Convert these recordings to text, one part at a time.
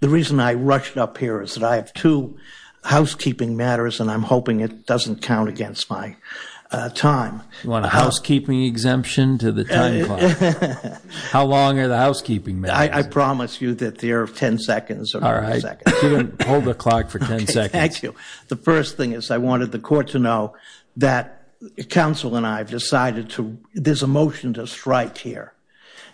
The reason I rushed up here is that I have two housekeeping matters and I'm hoping it doesn't count against my time. You want a housekeeping exemption to the time clock? How long are the housekeeping matters? I promise you that they are ten seconds. All right. Hold the clock for ten seconds. Thank you. The first thing is I wanted the court to know that counsel and I have decided to – there's a motion to strike here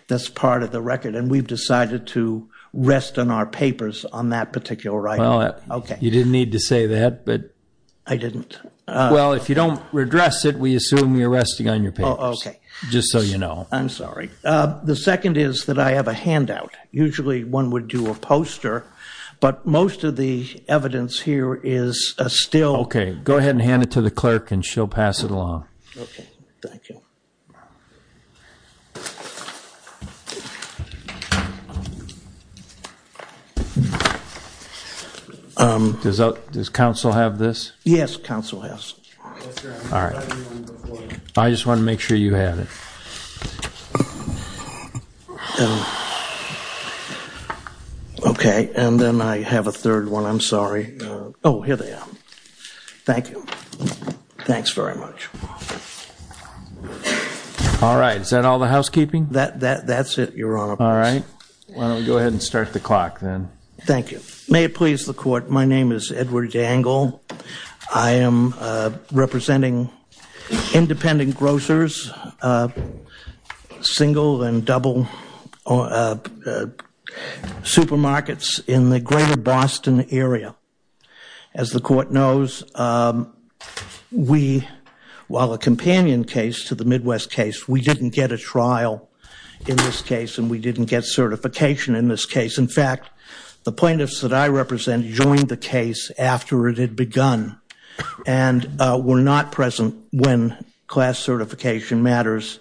that's part of the record. And we've decided to rest on our papers on that particular right. Well, you didn't need to say that, but – I didn't. Well, if you don't redress it, we assume you're resting on your papers. Oh, okay. Just so you know. I'm sorry. The second is that I have a handout. Usually one would do a poster, but most of the evidence here is still – Okay. Go ahead and hand it to the clerk and she'll pass it along. Okay. Thank you. Does counsel have this? Yes, counsel has. All right. I just wanted to make sure you had it. Okay. And then I have a third one. I'm sorry. Oh, here they are. Thank you. Thanks very much. All right. Is that all the housekeeping? That's it, Your Honor. All right. Why don't we go ahead and start the clock then. Thank you. May it please the court, my name is Edward Dangle. I am representing independent grocers, single and double supermarkets in the greater Boston area. As the court knows, we, while a companion case to the Midwest case, we didn't get a trial in this case and we didn't get certification in this case. In fact, the plaintiffs that I represent joined the case after it had begun and were not present when class certification matters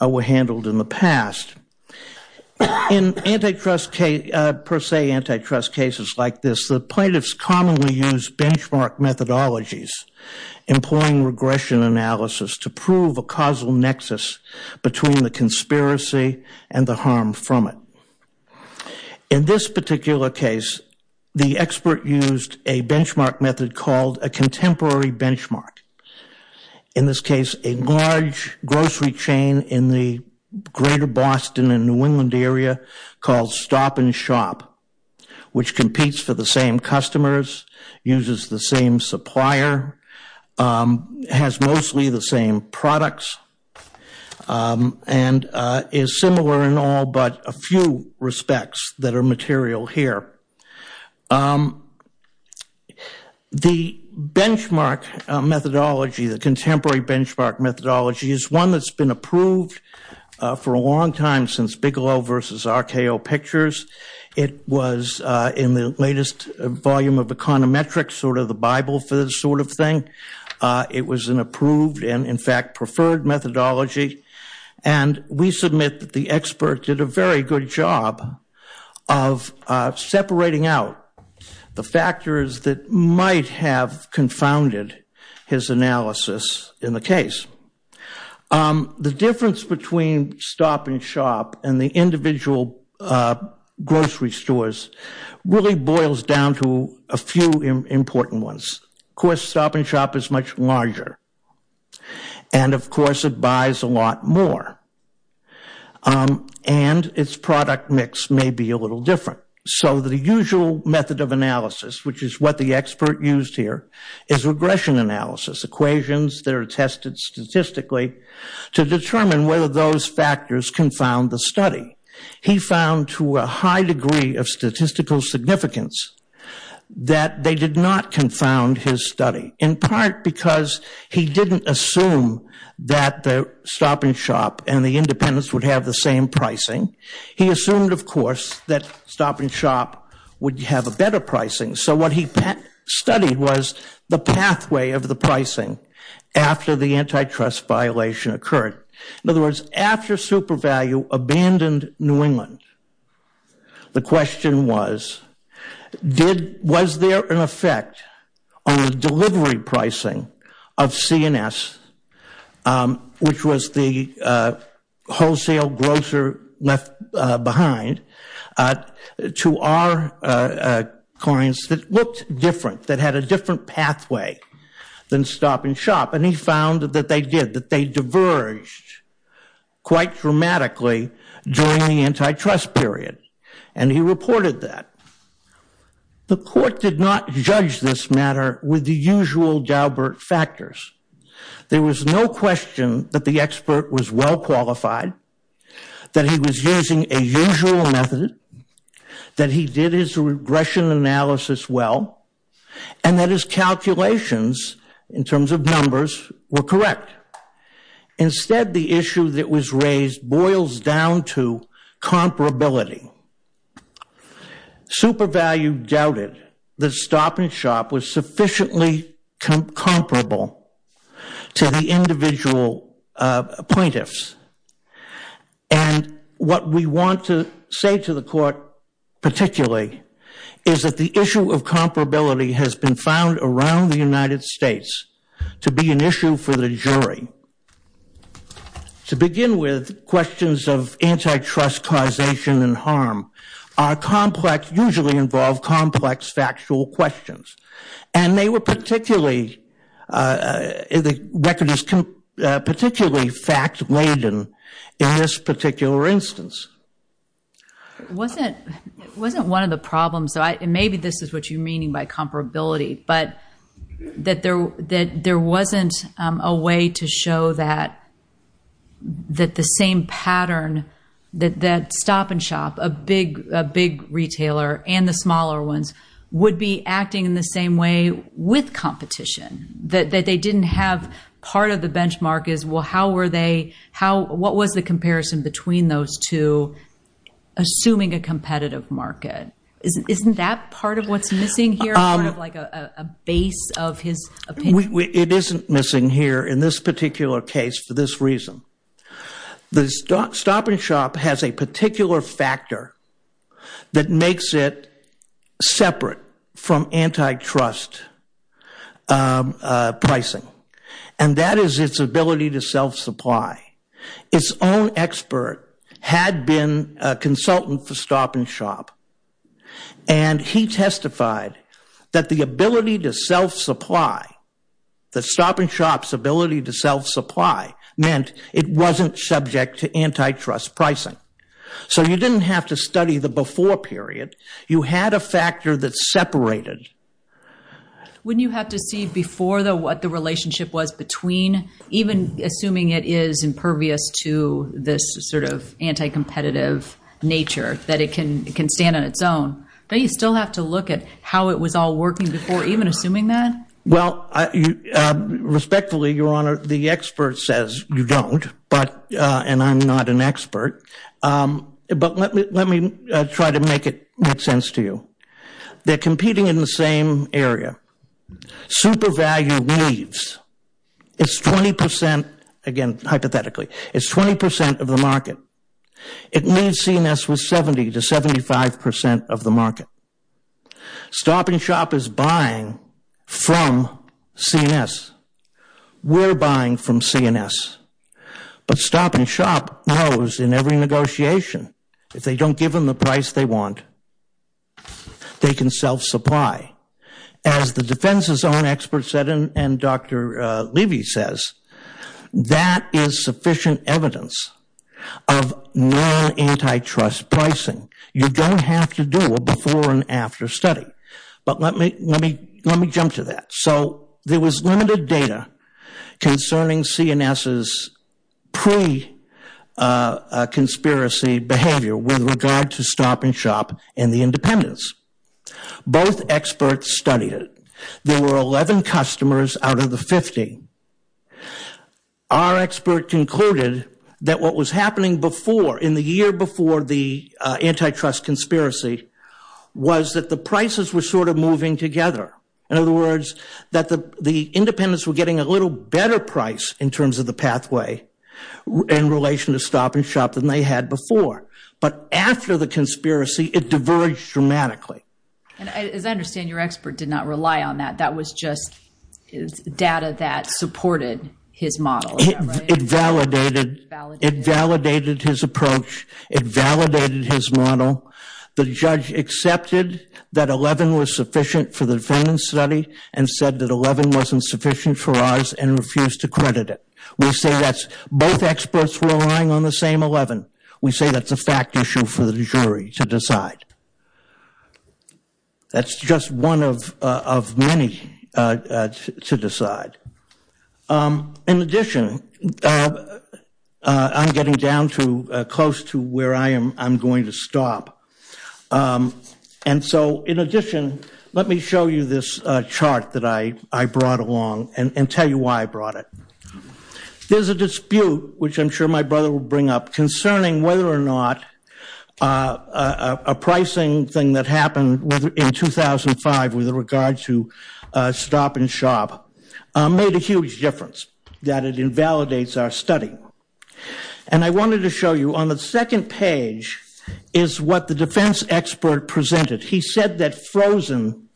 were handled in the past. In per se antitrust cases like this, the plaintiffs commonly use benchmark methodologies employing regression analysis to prove a causal nexus between the conspiracy and the harm from it. In this particular case, the expert used a benchmark method called a contemporary benchmark. In this case, a large grocery chain in the greater Boston and New England area called Stop and Shop, which competes for the same customers, uses the same supplier, has mostly the same products, and is similar in all but a few respects that are material here. The benchmark methodology, the contemporary benchmark methodology, is one that's been approved for a long time since Bigelow versus RKO Pictures. It was in the latest volume of Econometrics, sort of the Bible for this sort of thing. It was an approved and, in fact, preferred methodology. And we submit that the expert did a very good job of separating out the factors that might have confounded his analysis in the case. The difference between Stop and Shop and the individual grocery stores really boils down to a few important ones. Of course, Stop and Shop is much larger. And, of course, it buys a lot more. And its product mix may be a little different. So the usual method of analysis, which is what the expert used here, is regression analysis, equations that are tested statistically to determine whether those factors confound the study. He found to a high degree of statistical significance that they did not confound his study, in part because he didn't assume that the Stop and Shop and the Independence would have the same pricing. He assumed, of course, that Stop and Shop would have a better pricing. So what he studied was the pathway of the pricing after the antitrust violation occurred. In other words, after SuperValue abandoned New England, the question was, was there an effect on the delivery pricing of CNS, which was the wholesale grocer left behind, to our clients that looked different, that had a different pathway than Stop and Shop. And he found that they did, that they diverged quite dramatically during the antitrust period, and he reported that. The court did not judge this matter with the usual Daubert factors. There was no question that the expert was well qualified, that he was using a usual method, that he did his regression analysis well, and that his calculations, in terms of numbers, were correct. Instead, the issue that was raised boils down to comparability. SuperValue doubted that Stop and Shop was sufficiently comparable to the individual plaintiffs. And what we want to say to the court, particularly, is that the issue of comparability has been found around the United States to be an issue for the jury. To begin with, questions of antitrust causation and harm are complex, usually involve complex factual questions. And they were particularly, the record is particularly fact-laden in this particular instance. It wasn't one of the problems, and maybe this is what you mean by comparability, but that there wasn't a way to show that the same pattern, that Stop and Shop, a big retailer and the smaller ones, would be acting in the same way with competition, that they didn't have part of the benchmark is, well, how were they, what was the comparison between those two, assuming a competitive market? Isn't that part of what's missing here, part of like a base of his opinion? It isn't missing here in this particular case for this reason. The Stop and Shop has a particular factor that makes it separate from antitrust pricing, and that is its ability to self-supply. Its own expert had been a consultant for Stop and Shop, and he testified that the ability to self-supply, that Stop and Shop's ability to self-supply meant it wasn't subject to antitrust pricing. So you didn't have to study the before period. You had a factor that separated. Wouldn't you have to see before, though, what the relationship was between, even assuming it is impervious to this sort of anti-competitive nature, that it can stand on its own? Don't you still have to look at how it was all working before, even assuming that? Well, respectfully, Your Honor, the expert says you don't, and I'm not an expert, but let me try to make it make sense to you. They're competing in the same area. Super value leaves. It's 20 percent, again, hypothetically, it's 20 percent of the market. It means CNS was 70 to 75 percent of the market. Stop and Shop is buying from CNS. We're buying from CNS. But Stop and Shop knows in every negotiation, if they don't give them the price they want, they can self-supply. As the defense's own expert said, and Dr. Levy says, that is sufficient evidence of non-antitrust pricing. You don't have to do a before and after study. But let me jump to that. So there was limited data concerning CNS's pre-conspiracy behavior with regard to Stop and Shop and the independents. Both experts studied it. There were 11 customers out of the 50. Our expert concluded that what was happening before, in the year before the antitrust conspiracy, was that the prices were sort of moving together. In other words, that the independents were getting a little better price in terms of the pathway in relation to Stop and Shop than they had before. But after the conspiracy, it diverged dramatically. And as I understand, your expert did not rely on that. That was just data that supported his model. It validated his approach. It validated his model. The judge accepted that 11 was sufficient for the defendant's study and said that 11 wasn't sufficient for ours and refused to credit it. We say that both experts were relying on the same 11. We say that's a fact issue for the jury to decide. That's just one of many to decide. In addition, I'm getting down to close to where I am going to stop. And so, in addition, let me show you this chart that I brought along and tell you why I brought it. There's a dispute, which I'm sure my brother will bring up, concerning whether or not a pricing thing that happened in 2005 with regard to Stop and Shop made a huge difference, that it invalidates our study. And I wanted to show you on the second page is what the defense expert presented. He said that frozen,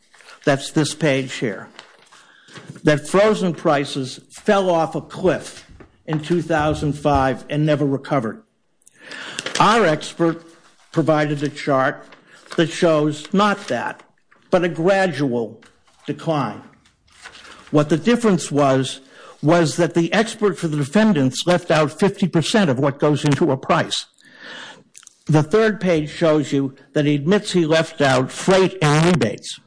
that's this page here, that frozen prices fell off a cliff in 2005 and never recovered. Our expert provided a chart that shows not that, but a gradual decline. What the difference was, was that the expert for the defendants left out 50% of what goes into a price. The third page shows you that he admits he left out freight and rebates.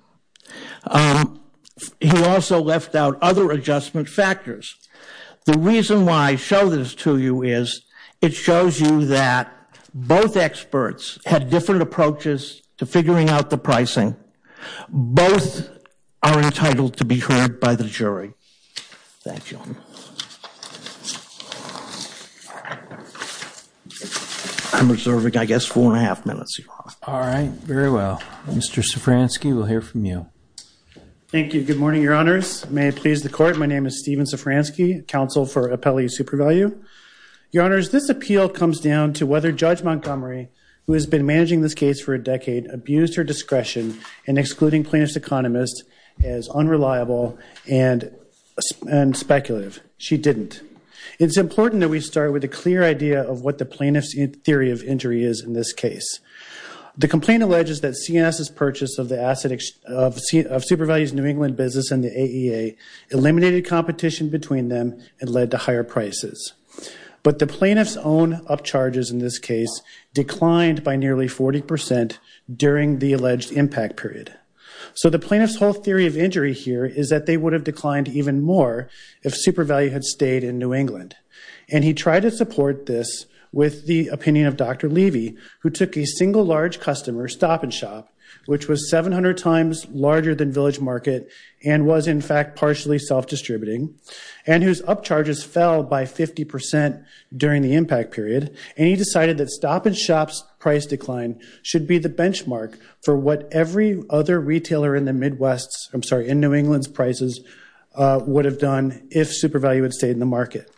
He also left out other adjustment factors. The reason why I show this to you is it shows you that both experts had different approaches to figuring out the pricing. Both are entitled to be heard by the jury. Thank you. I'm reserving, I guess, four and a half minutes. All right, very well. Mr. Szafranski, we'll hear from you. Thank you, good morning, your honors. May it please the court, my name is Stephen Szafranski, counsel for Appellee Supervalue. Your honors, this appeal comes down to whether Judge Montgomery, who has been managing this case for a decade, abused her discretion in excluding plaintiff's economist as unreliable and speculative. She didn't. It's important that we start with a clear idea of what the plaintiff's theory of injury is in this case. The complaint alleges that CNS's purchase of Supervalue's New England business and the AEA eliminated competition between them and led to higher prices. But the plaintiff's own upcharges in this case declined by nearly 40% during the alleged impact period. So the plaintiff's whole theory of injury here is that they would have declined even more if Supervalue had stayed in New England. And he tried to support this with the opinion of Dr. Levy, who took a single large customer, Stop and Shop, which was 700 times larger than Village Market and was in fact partially self-distributing, and whose upcharges fell by 50% during the impact period, and he decided that Stop and Shop's price decline should be the benchmark for what every other retailer in the Midwest's, I'm sorry, in New England's prices would have done if Supervalue had stayed in the market.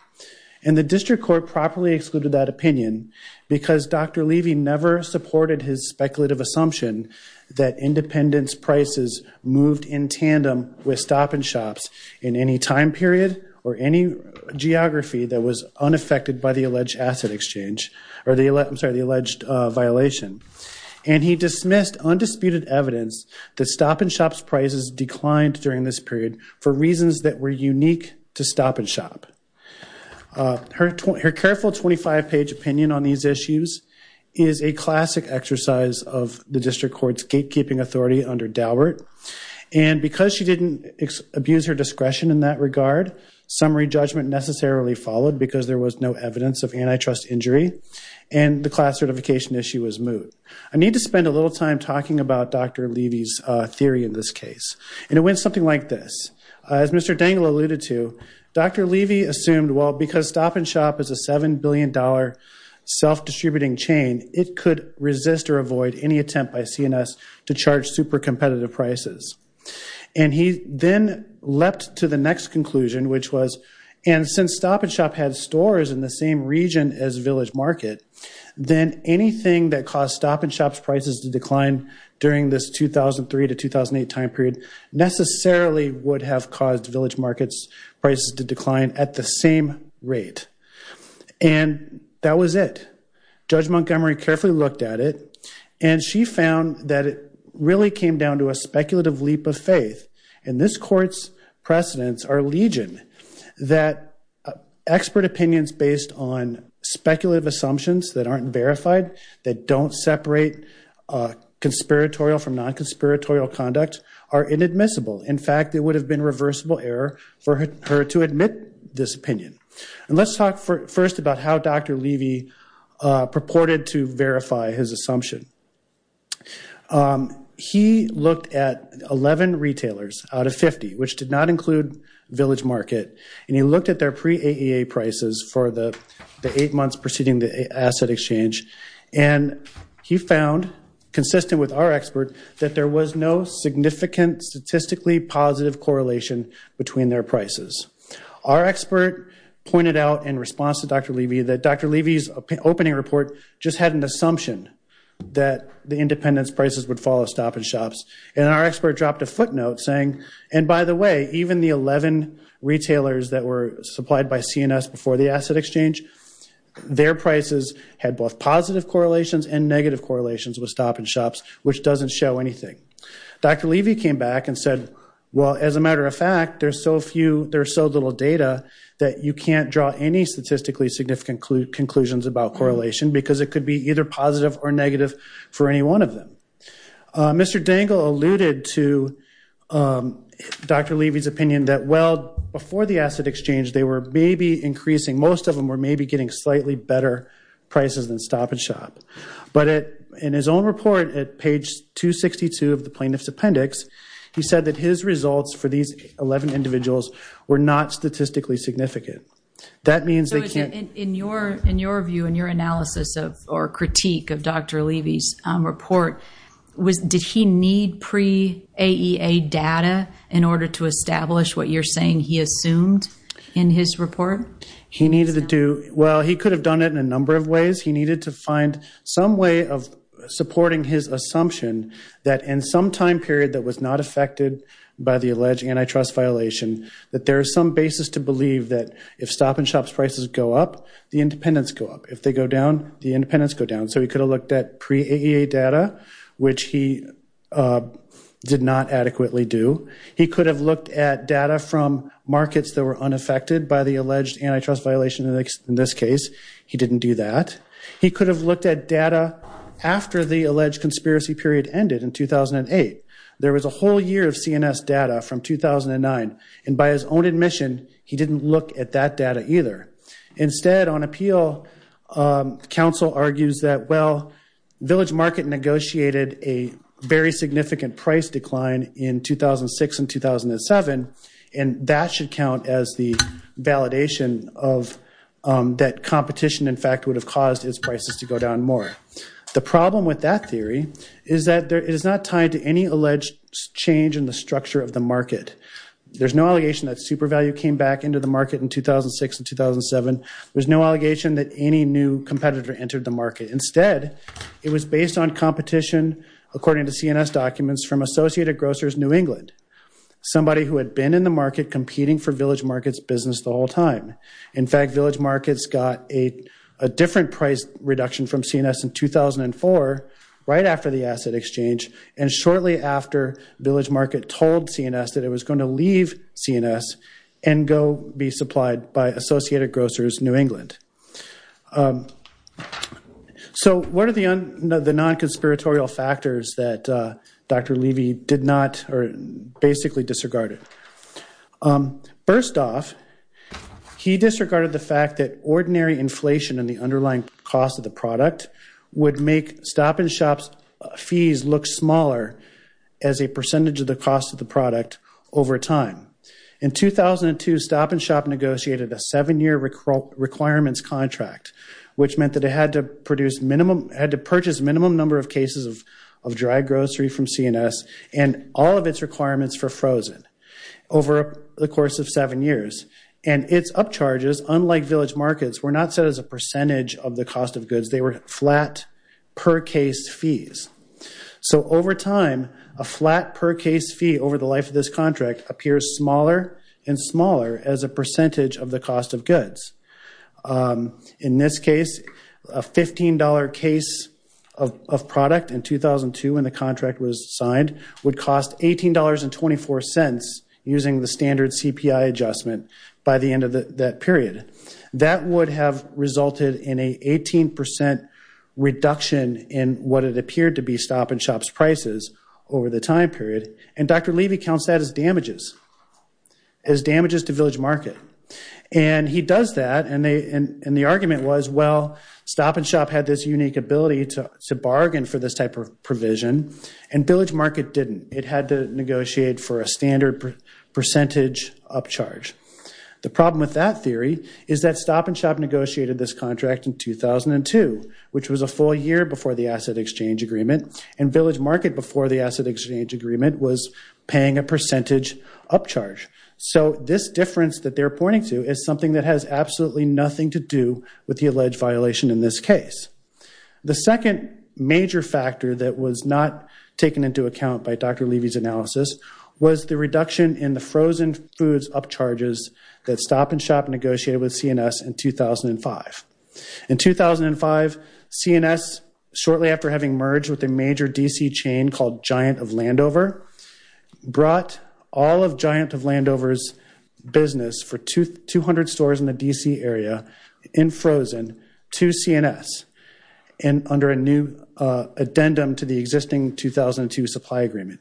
And the district court properly excluded that opinion because Dr. Levy never supported his speculative assumption that independence prices moved in tandem with Stop and Shop's in any time period or any geography that was unaffected by the alleged asset exchange, or the alleged violation. And he dismissed undisputed evidence that Stop and Shop's prices declined during this period for reasons that were unique to Stop and Shop. Her careful 25-page opinion on these issues is a classic exercise of the district court's gatekeeping authority under Daubert. And because she didn't abuse her discretion in that regard, summary judgment necessarily followed because there was no evidence of antitrust injury, and the class certification issue was moot. I need to spend a little time talking about Dr. Levy's theory in this case, and it went something like this. As Mr. Dangle alluded to, Dr. Levy assumed, well, because Stop and Shop is a $7 billion self-distributing chain, it could resist or avoid any attempt by CNS to charge super competitive prices. And he then leapt to the next conclusion, which was, and since Stop and Shop had stores in the same region as Village Market, then anything that caused Stop and Shop's prices to decline during this 2003 to 2008 time period necessarily would have caused Village Market's prices to decline at the same rate. And that was it. Judge Montgomery carefully looked at it, and she found that it really came down to a speculative leap of faith. And this court's precedents are legion, that expert opinions based on speculative assumptions that aren't verified, that don't separate conspiratorial from non-conspiratorial conduct, are inadmissible. In fact, it would have been reversible error for her to admit this opinion. And let's talk first about how Dr. Levy purported to verify his assumption. He looked at 11 retailers out of 50, which did not include Village Market, and he looked at their pre-AEA prices for the eight months preceding the asset exchange, and he found, consistent with our expert, that there was no significant statistically positive correlation between their prices. Our expert pointed out in response to Dr. Levy that Dr. Levy's opening report just had an assumption that the independence prices would follow Stop and Shop's, and our expert dropped a footnote saying, and by the way, even the 11 retailers that were supplied by CNS before the asset exchange, their prices had both positive correlations and negative correlations with Stop and Shop's, which doesn't show anything. Dr. Levy came back and said, well, as a matter of fact, there's so few, there's so little data that you can't draw any statistically significant conclusions about correlation because it could be either positive or negative for any one of them. Mr. Dangle alluded to Dr. Levy's opinion that, well, before the asset exchange, they were maybe increasing, most of them were maybe getting slightly better prices than Stop and Shop, but in his own report at page 262 of the plaintiff's appendix, he said that his results for these 11 individuals were not statistically significant. That means they can't- In your view, in your analysis or critique of Dr. Levy's report, did he need pre-AEA data in order to establish what you're saying he assumed in his report? He needed to do-well, he could have done it in a number of ways. He needed to find some way of supporting his assumption that in some time period that was not affected by the alleged antitrust violation that there is some basis to believe that if Stop and Shop's prices go up, the independents go up. If they go down, the independents go down. So he could have looked at pre-AEA data, which he did not adequately do. He could have looked at data from markets that were unaffected by the alleged antitrust violation in this case. He didn't do that. He could have looked at data after the alleged conspiracy period ended in 2008. There was a whole year of CNS data from 2009, and by his own admission, he didn't look at that data either. Instead, on appeal, counsel argues that, well, Village Market negotiated a very significant price decline in 2006 and 2007, and that should count as the validation that competition, in fact, would have caused its prices to go down more. The problem with that theory is that it is not tied to any alleged change in the structure of the market. There's no allegation that super value came back into the market in 2006 and 2007. There's no allegation that any new competitor entered the market. Instead, it was based on competition, according to CNS documents, from Associated Grocers New England, somebody who had been in the market competing for Village Market's business the whole time. In fact, Village Market's got a different price reduction from CNS in 2004, right after the asset exchange, and shortly after Village Market told CNS that it was going to leave CNS and go be supplied by Associated Grocers New England. So what are the non-conspiratorial factors that Dr. Levy did not or basically disregarded? First off, he disregarded the fact that ordinary inflation and the underlying cost of the product would make Stop-and-Shop's fees look smaller as a percentage of the cost of the product over time. In 2002, Stop-and-Shop negotiated a seven-year requirements contract, which meant that it had to purchase minimum number of cases of dry grocery from CNS and all of its requirements for frozen over the course of seven years. And its upcharges, unlike Village Market's, were not set as a percentage of the cost of goods. They were flat per case fees. So over time, a flat per case fee over the life of this contract appears smaller and smaller as a percentage of the cost of goods. In this case, a $15 case of product in 2002, when the contract was signed, would cost $18.24 using the standard CPI adjustment by the end of that period. That would have resulted in an 18% reduction in what it appeared to be Stop-and-Shop's prices over the time period. And Dr. Levy counts that as damages, as damages to Village Market. And he does that, and the argument was, well, Stop-and-Shop had this unique ability to bargain for this type of provision, and Village Market didn't. It had to negotiate for a standard percentage upcharge. The problem with that theory is that Stop-and-Shop negotiated this contract in 2002, which was a full year before the Asset Exchange Agreement, and Village Market, before the Asset Exchange Agreement, was paying a percentage upcharge. So this difference that they're pointing to is something that has absolutely nothing to do with the alleged violation in this case. The second major factor that was not taken into account by Dr. Levy's analysis was the reduction in the frozen foods upcharges that Stop-and-Shop negotiated with CNS in 2005. In 2005, CNS, shortly after having merged with a major DC chain called Giant of Landover, brought all of Giant of Landover's business for 200 stores in the DC area in frozen to CNS under a new addendum to the existing 2002 Supply Agreement.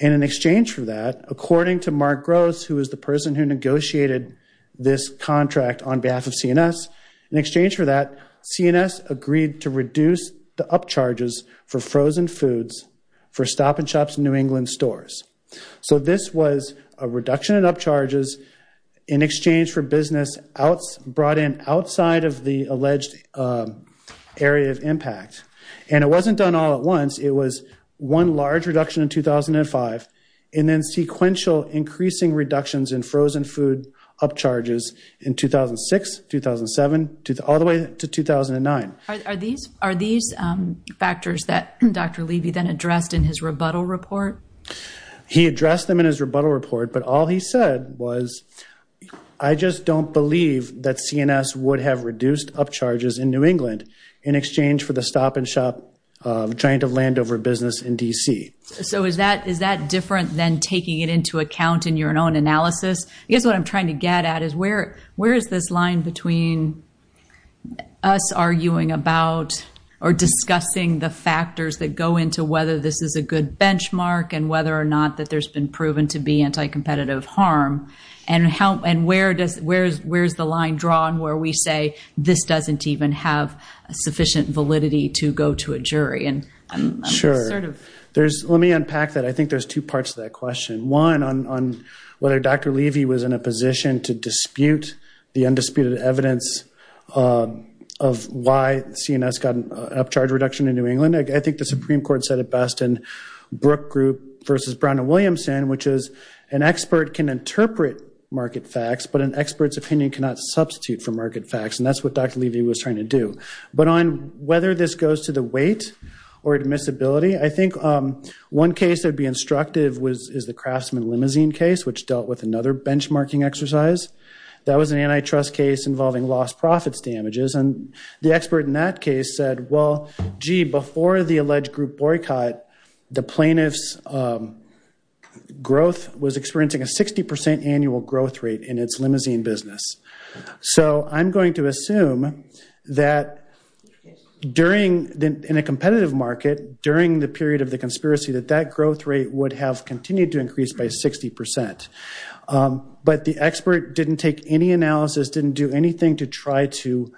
And in exchange for that, according to Mark Gross, who was the person who negotiated this contract on behalf of CNS, in exchange for that, CNS agreed to reduce the upcharges for frozen foods for Stop-and-Shop's New England stores. So this was a reduction in upcharges in exchange for business brought in outside of the alleged area of impact. And it wasn't done all at once. It was one large reduction in 2005 and then sequential increasing reductions in frozen food upcharges in 2006, 2007, all the way to 2009. Are these factors that Dr. Levy then addressed in his rebuttal report? He addressed them in his rebuttal report, but all he said was, I just don't believe that CNS would have reduced upcharges in New England in exchange for the Stop-and-Shop Giant of Landover business in DC. So is that different than taking it into account in your own analysis? I guess what I'm trying to get at is where is this line between us arguing about or discussing the factors that go into whether this is a good benchmark and whether or not that there's been proven to be anti-competitive harm, and where is the line drawn where we say this doesn't even have sufficient validity to go to a jury? Sure. Let me unpack that. I think there's two parts to that question. One, on whether Dr. Levy was in a position to dispute the undisputed evidence of why CNS got an upcharge reduction in New England. I think the Supreme Court said it best in Brook Group versus Brown and Williamson, which is an expert can interpret market facts, but an expert's opinion cannot substitute for market facts, and that's what Dr. Levy was trying to do. But on whether this goes to the weight or admissibility, I think one case that would be instructive is the Craftsman Limousine case, which dealt with another benchmarking exercise. That was an antitrust case involving lost profits damages, and the expert in that case said, well, gee, before the alleged group boycott, the plaintiff's growth was experiencing a 60% annual growth rate in its limousine business. So I'm going to assume that in a competitive market, during the period of the conspiracy, that that growth rate would have continued to increase by 60%. But the expert didn't take any analysis, didn't do anything to try to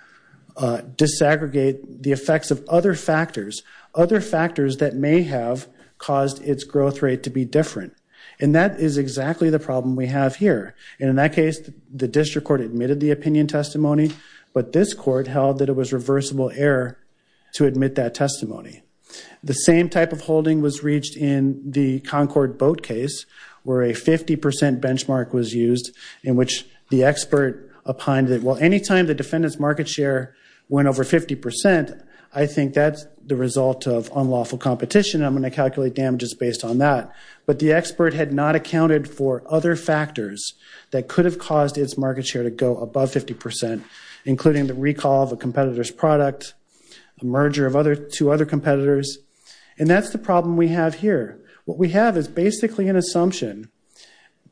disaggregate the effects of other factors, other factors that may have caused its growth rate to be different. And that is exactly the problem we have here. And in that case, the district court admitted the opinion testimony, but this court held that it was reversible error to admit that testimony. The same type of holding was reached in the Concord Boat case, where a 50% benchmark was used, in which the expert opined that, well, any time the defendant's market share went over 50%, I think that's the result of unlawful competition, and I'm going to calculate damages based on that. But the expert had not accounted for other factors that could have caused its market share to go above 50%, including the recall of a competitor's product, a merger of two other competitors. And that's the problem we have here. What we have is basically an assumption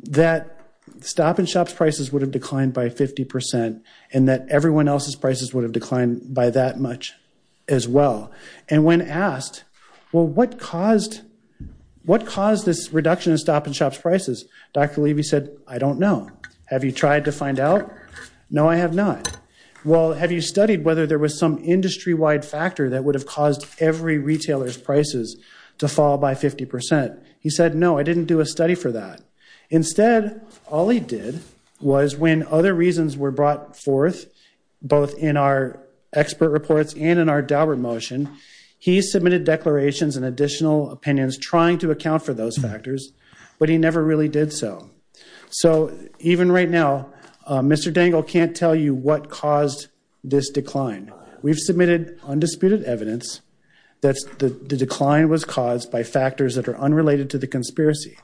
that stop-and-shops prices would have declined by 50% and that everyone else's prices would have declined by that much as well. And when asked, well, what caused this reduction in stop-and-shops prices, Dr. Levy said, I don't know. Have you tried to find out? No, I have not. Well, have you studied whether there was some industry-wide factor that would have caused every retailer's prices to fall by 50%? He said, no, I didn't do a study for that. Instead, all he did was when other reasons were brought forth, both in our expert reports and in our Daubert motion, he submitted declarations and additional opinions trying to account for those factors, but he never really did so. So even right now, Mr. Dangle can't tell you what caused this decline. We've submitted undisputed evidence that the decline was caused by factors that are unrelated to the conspiracy.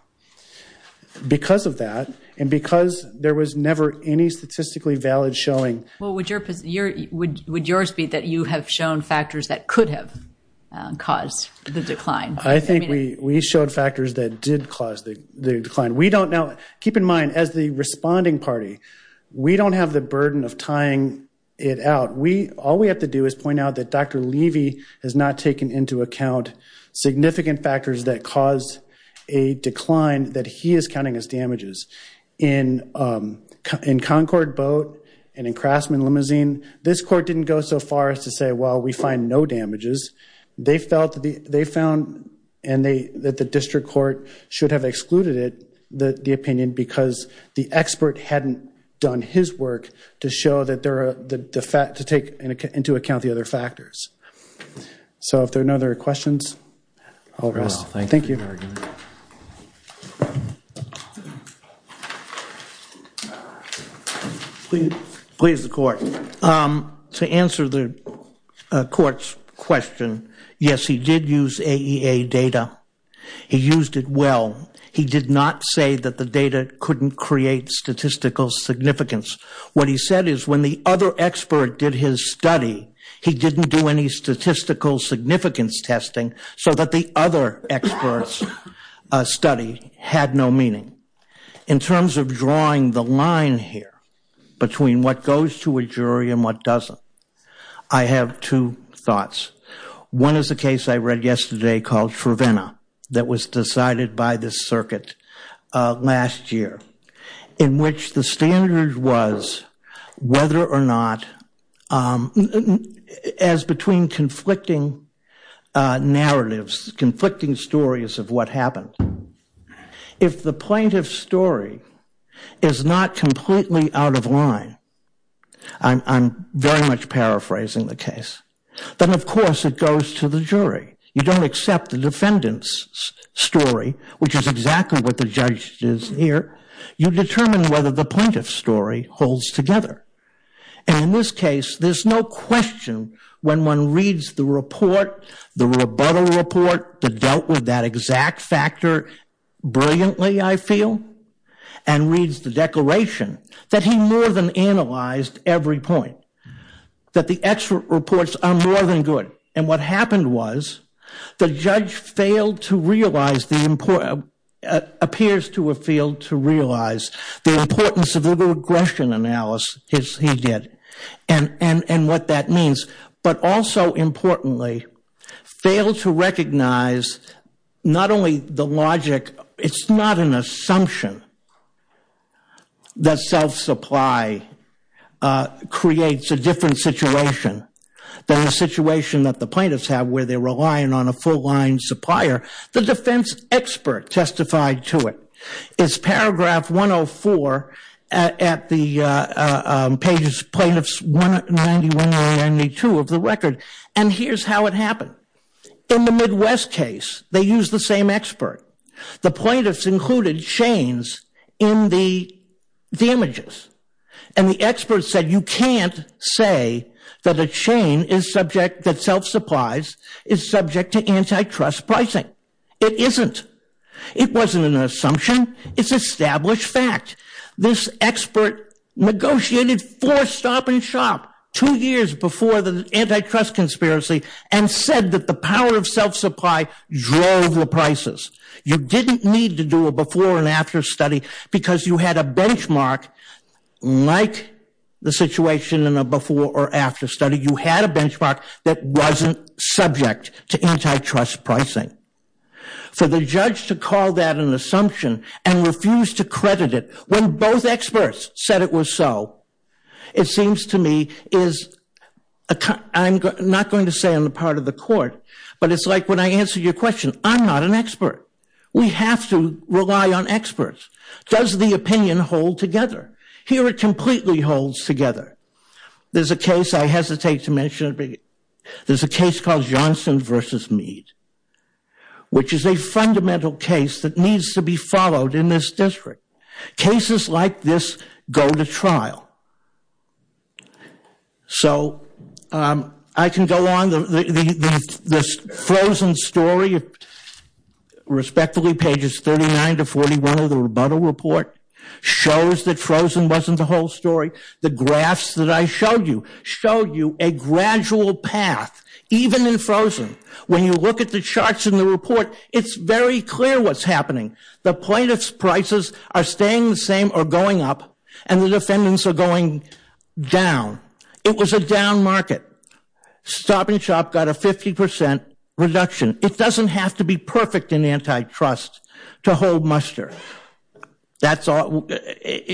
Because of that and because there was never any statistically valid showing. Well, would yours be that you have shown factors that could have caused the decline? I think we showed factors that did cause the decline. Keep in mind, as the responding party, we don't have the burden of tying it out. All we have to do is point out that Dr. Levy has not taken into account significant factors that caused a decline that he is counting as damages. In Concord Boat and in Craftsman Limousine, this court didn't go so far as to say, well, we find no damages. They found that the district court should have excluded it, the opinion, because the expert hadn't done his work to take into account the other factors. So if there are no other questions, I'll rest. Thank you. Please, the court. To answer the court's question, yes, he did use AEA data. He used it well. He did not say that the data couldn't create statistical significance. What he said is when the other expert did his study, he didn't do any statistical significance testing so that the other expert's study had no meaning. In terms of drawing the line here between what goes to a jury and what doesn't, I have two thoughts. One is a case I read yesterday called Trevena that was decided by the circuit last year, in which the standard was whether or not, as between conflicting narratives, conflicting stories of what happened, if the plaintiff's story is not completely out of line, I'm very much paraphrasing the case, then, of course, it goes to the jury. You don't accept the defendant's story, which is exactly what the judge did here. You determine whether the plaintiff's story holds together. In this case, there's no question when one reads the report, the rebuttal report that dealt with that exact factor brilliantly, I feel, and reads the declaration, that he more than analyzed every point, that the expert reports are more than good. And what happened was the judge failed to realize, appears to have failed to realize the importance of the regression analysis he did and what that means, but also, importantly, failed to recognize not only the logic, it's not an assumption that self-supply creates a different situation than the situation that the plaintiffs have where they're relying on a full line supplier. The defense expert testified to it. It's paragraph 104 at the pages plaintiffs 191 and 92 of the record. And here's how it happened. In the Midwest case, they used the same expert. The plaintiffs included chains in the images. And the expert said you can't say that a chain is subject, that self-supplies is subject to antitrust pricing. It isn't. It wasn't an assumption. It's established fact. This expert negotiated four stop and shop two years before the antitrust conspiracy and said that the power of self-supply drove the prices. You didn't need to do a before and after study because you had a benchmark like the situation in a before or after study. You had a benchmark that wasn't subject to antitrust pricing. For the judge to call that an assumption and refuse to credit it when both experts said it was so, it seems to me is, I'm not going to say on the part of the court, but it's like when I answer your question, I'm not an expert. We have to rely on experts. Does the opinion hold together? Here it completely holds together. There's a case I hesitate to mention. There's a case called Johnson v. Meade, which is a fundamental case that needs to be followed in this district. Cases like this go to trial. So I can go on. The frozen story, respectfully, pages 39 to 41 of the rebuttal report, shows that frozen wasn't the whole story. The graphs that I showed you showed you a gradual path, even in frozen. When you look at the charts in the report, it's very clear what's happening. The plaintiff's prices are staying the same or going up, and the defendants are going down. It was a down market. Stop and shop got a 50% reduction. It doesn't have to be perfect in antitrust to hold muster. That's all.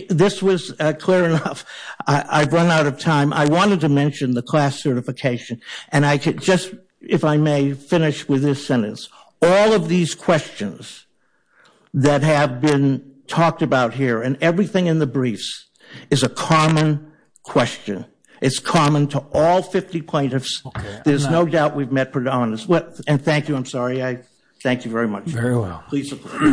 This was clear enough. I've run out of time. I wanted to mention the class certification. And I could just, if I may, finish with this sentence. All of these questions that have been talked about here and everything in the briefs is a common question. It's common to all 50 plaintiffs. There's no doubt we've met predominance. And thank you. I'm sorry. Thank you very much. Thank you very well.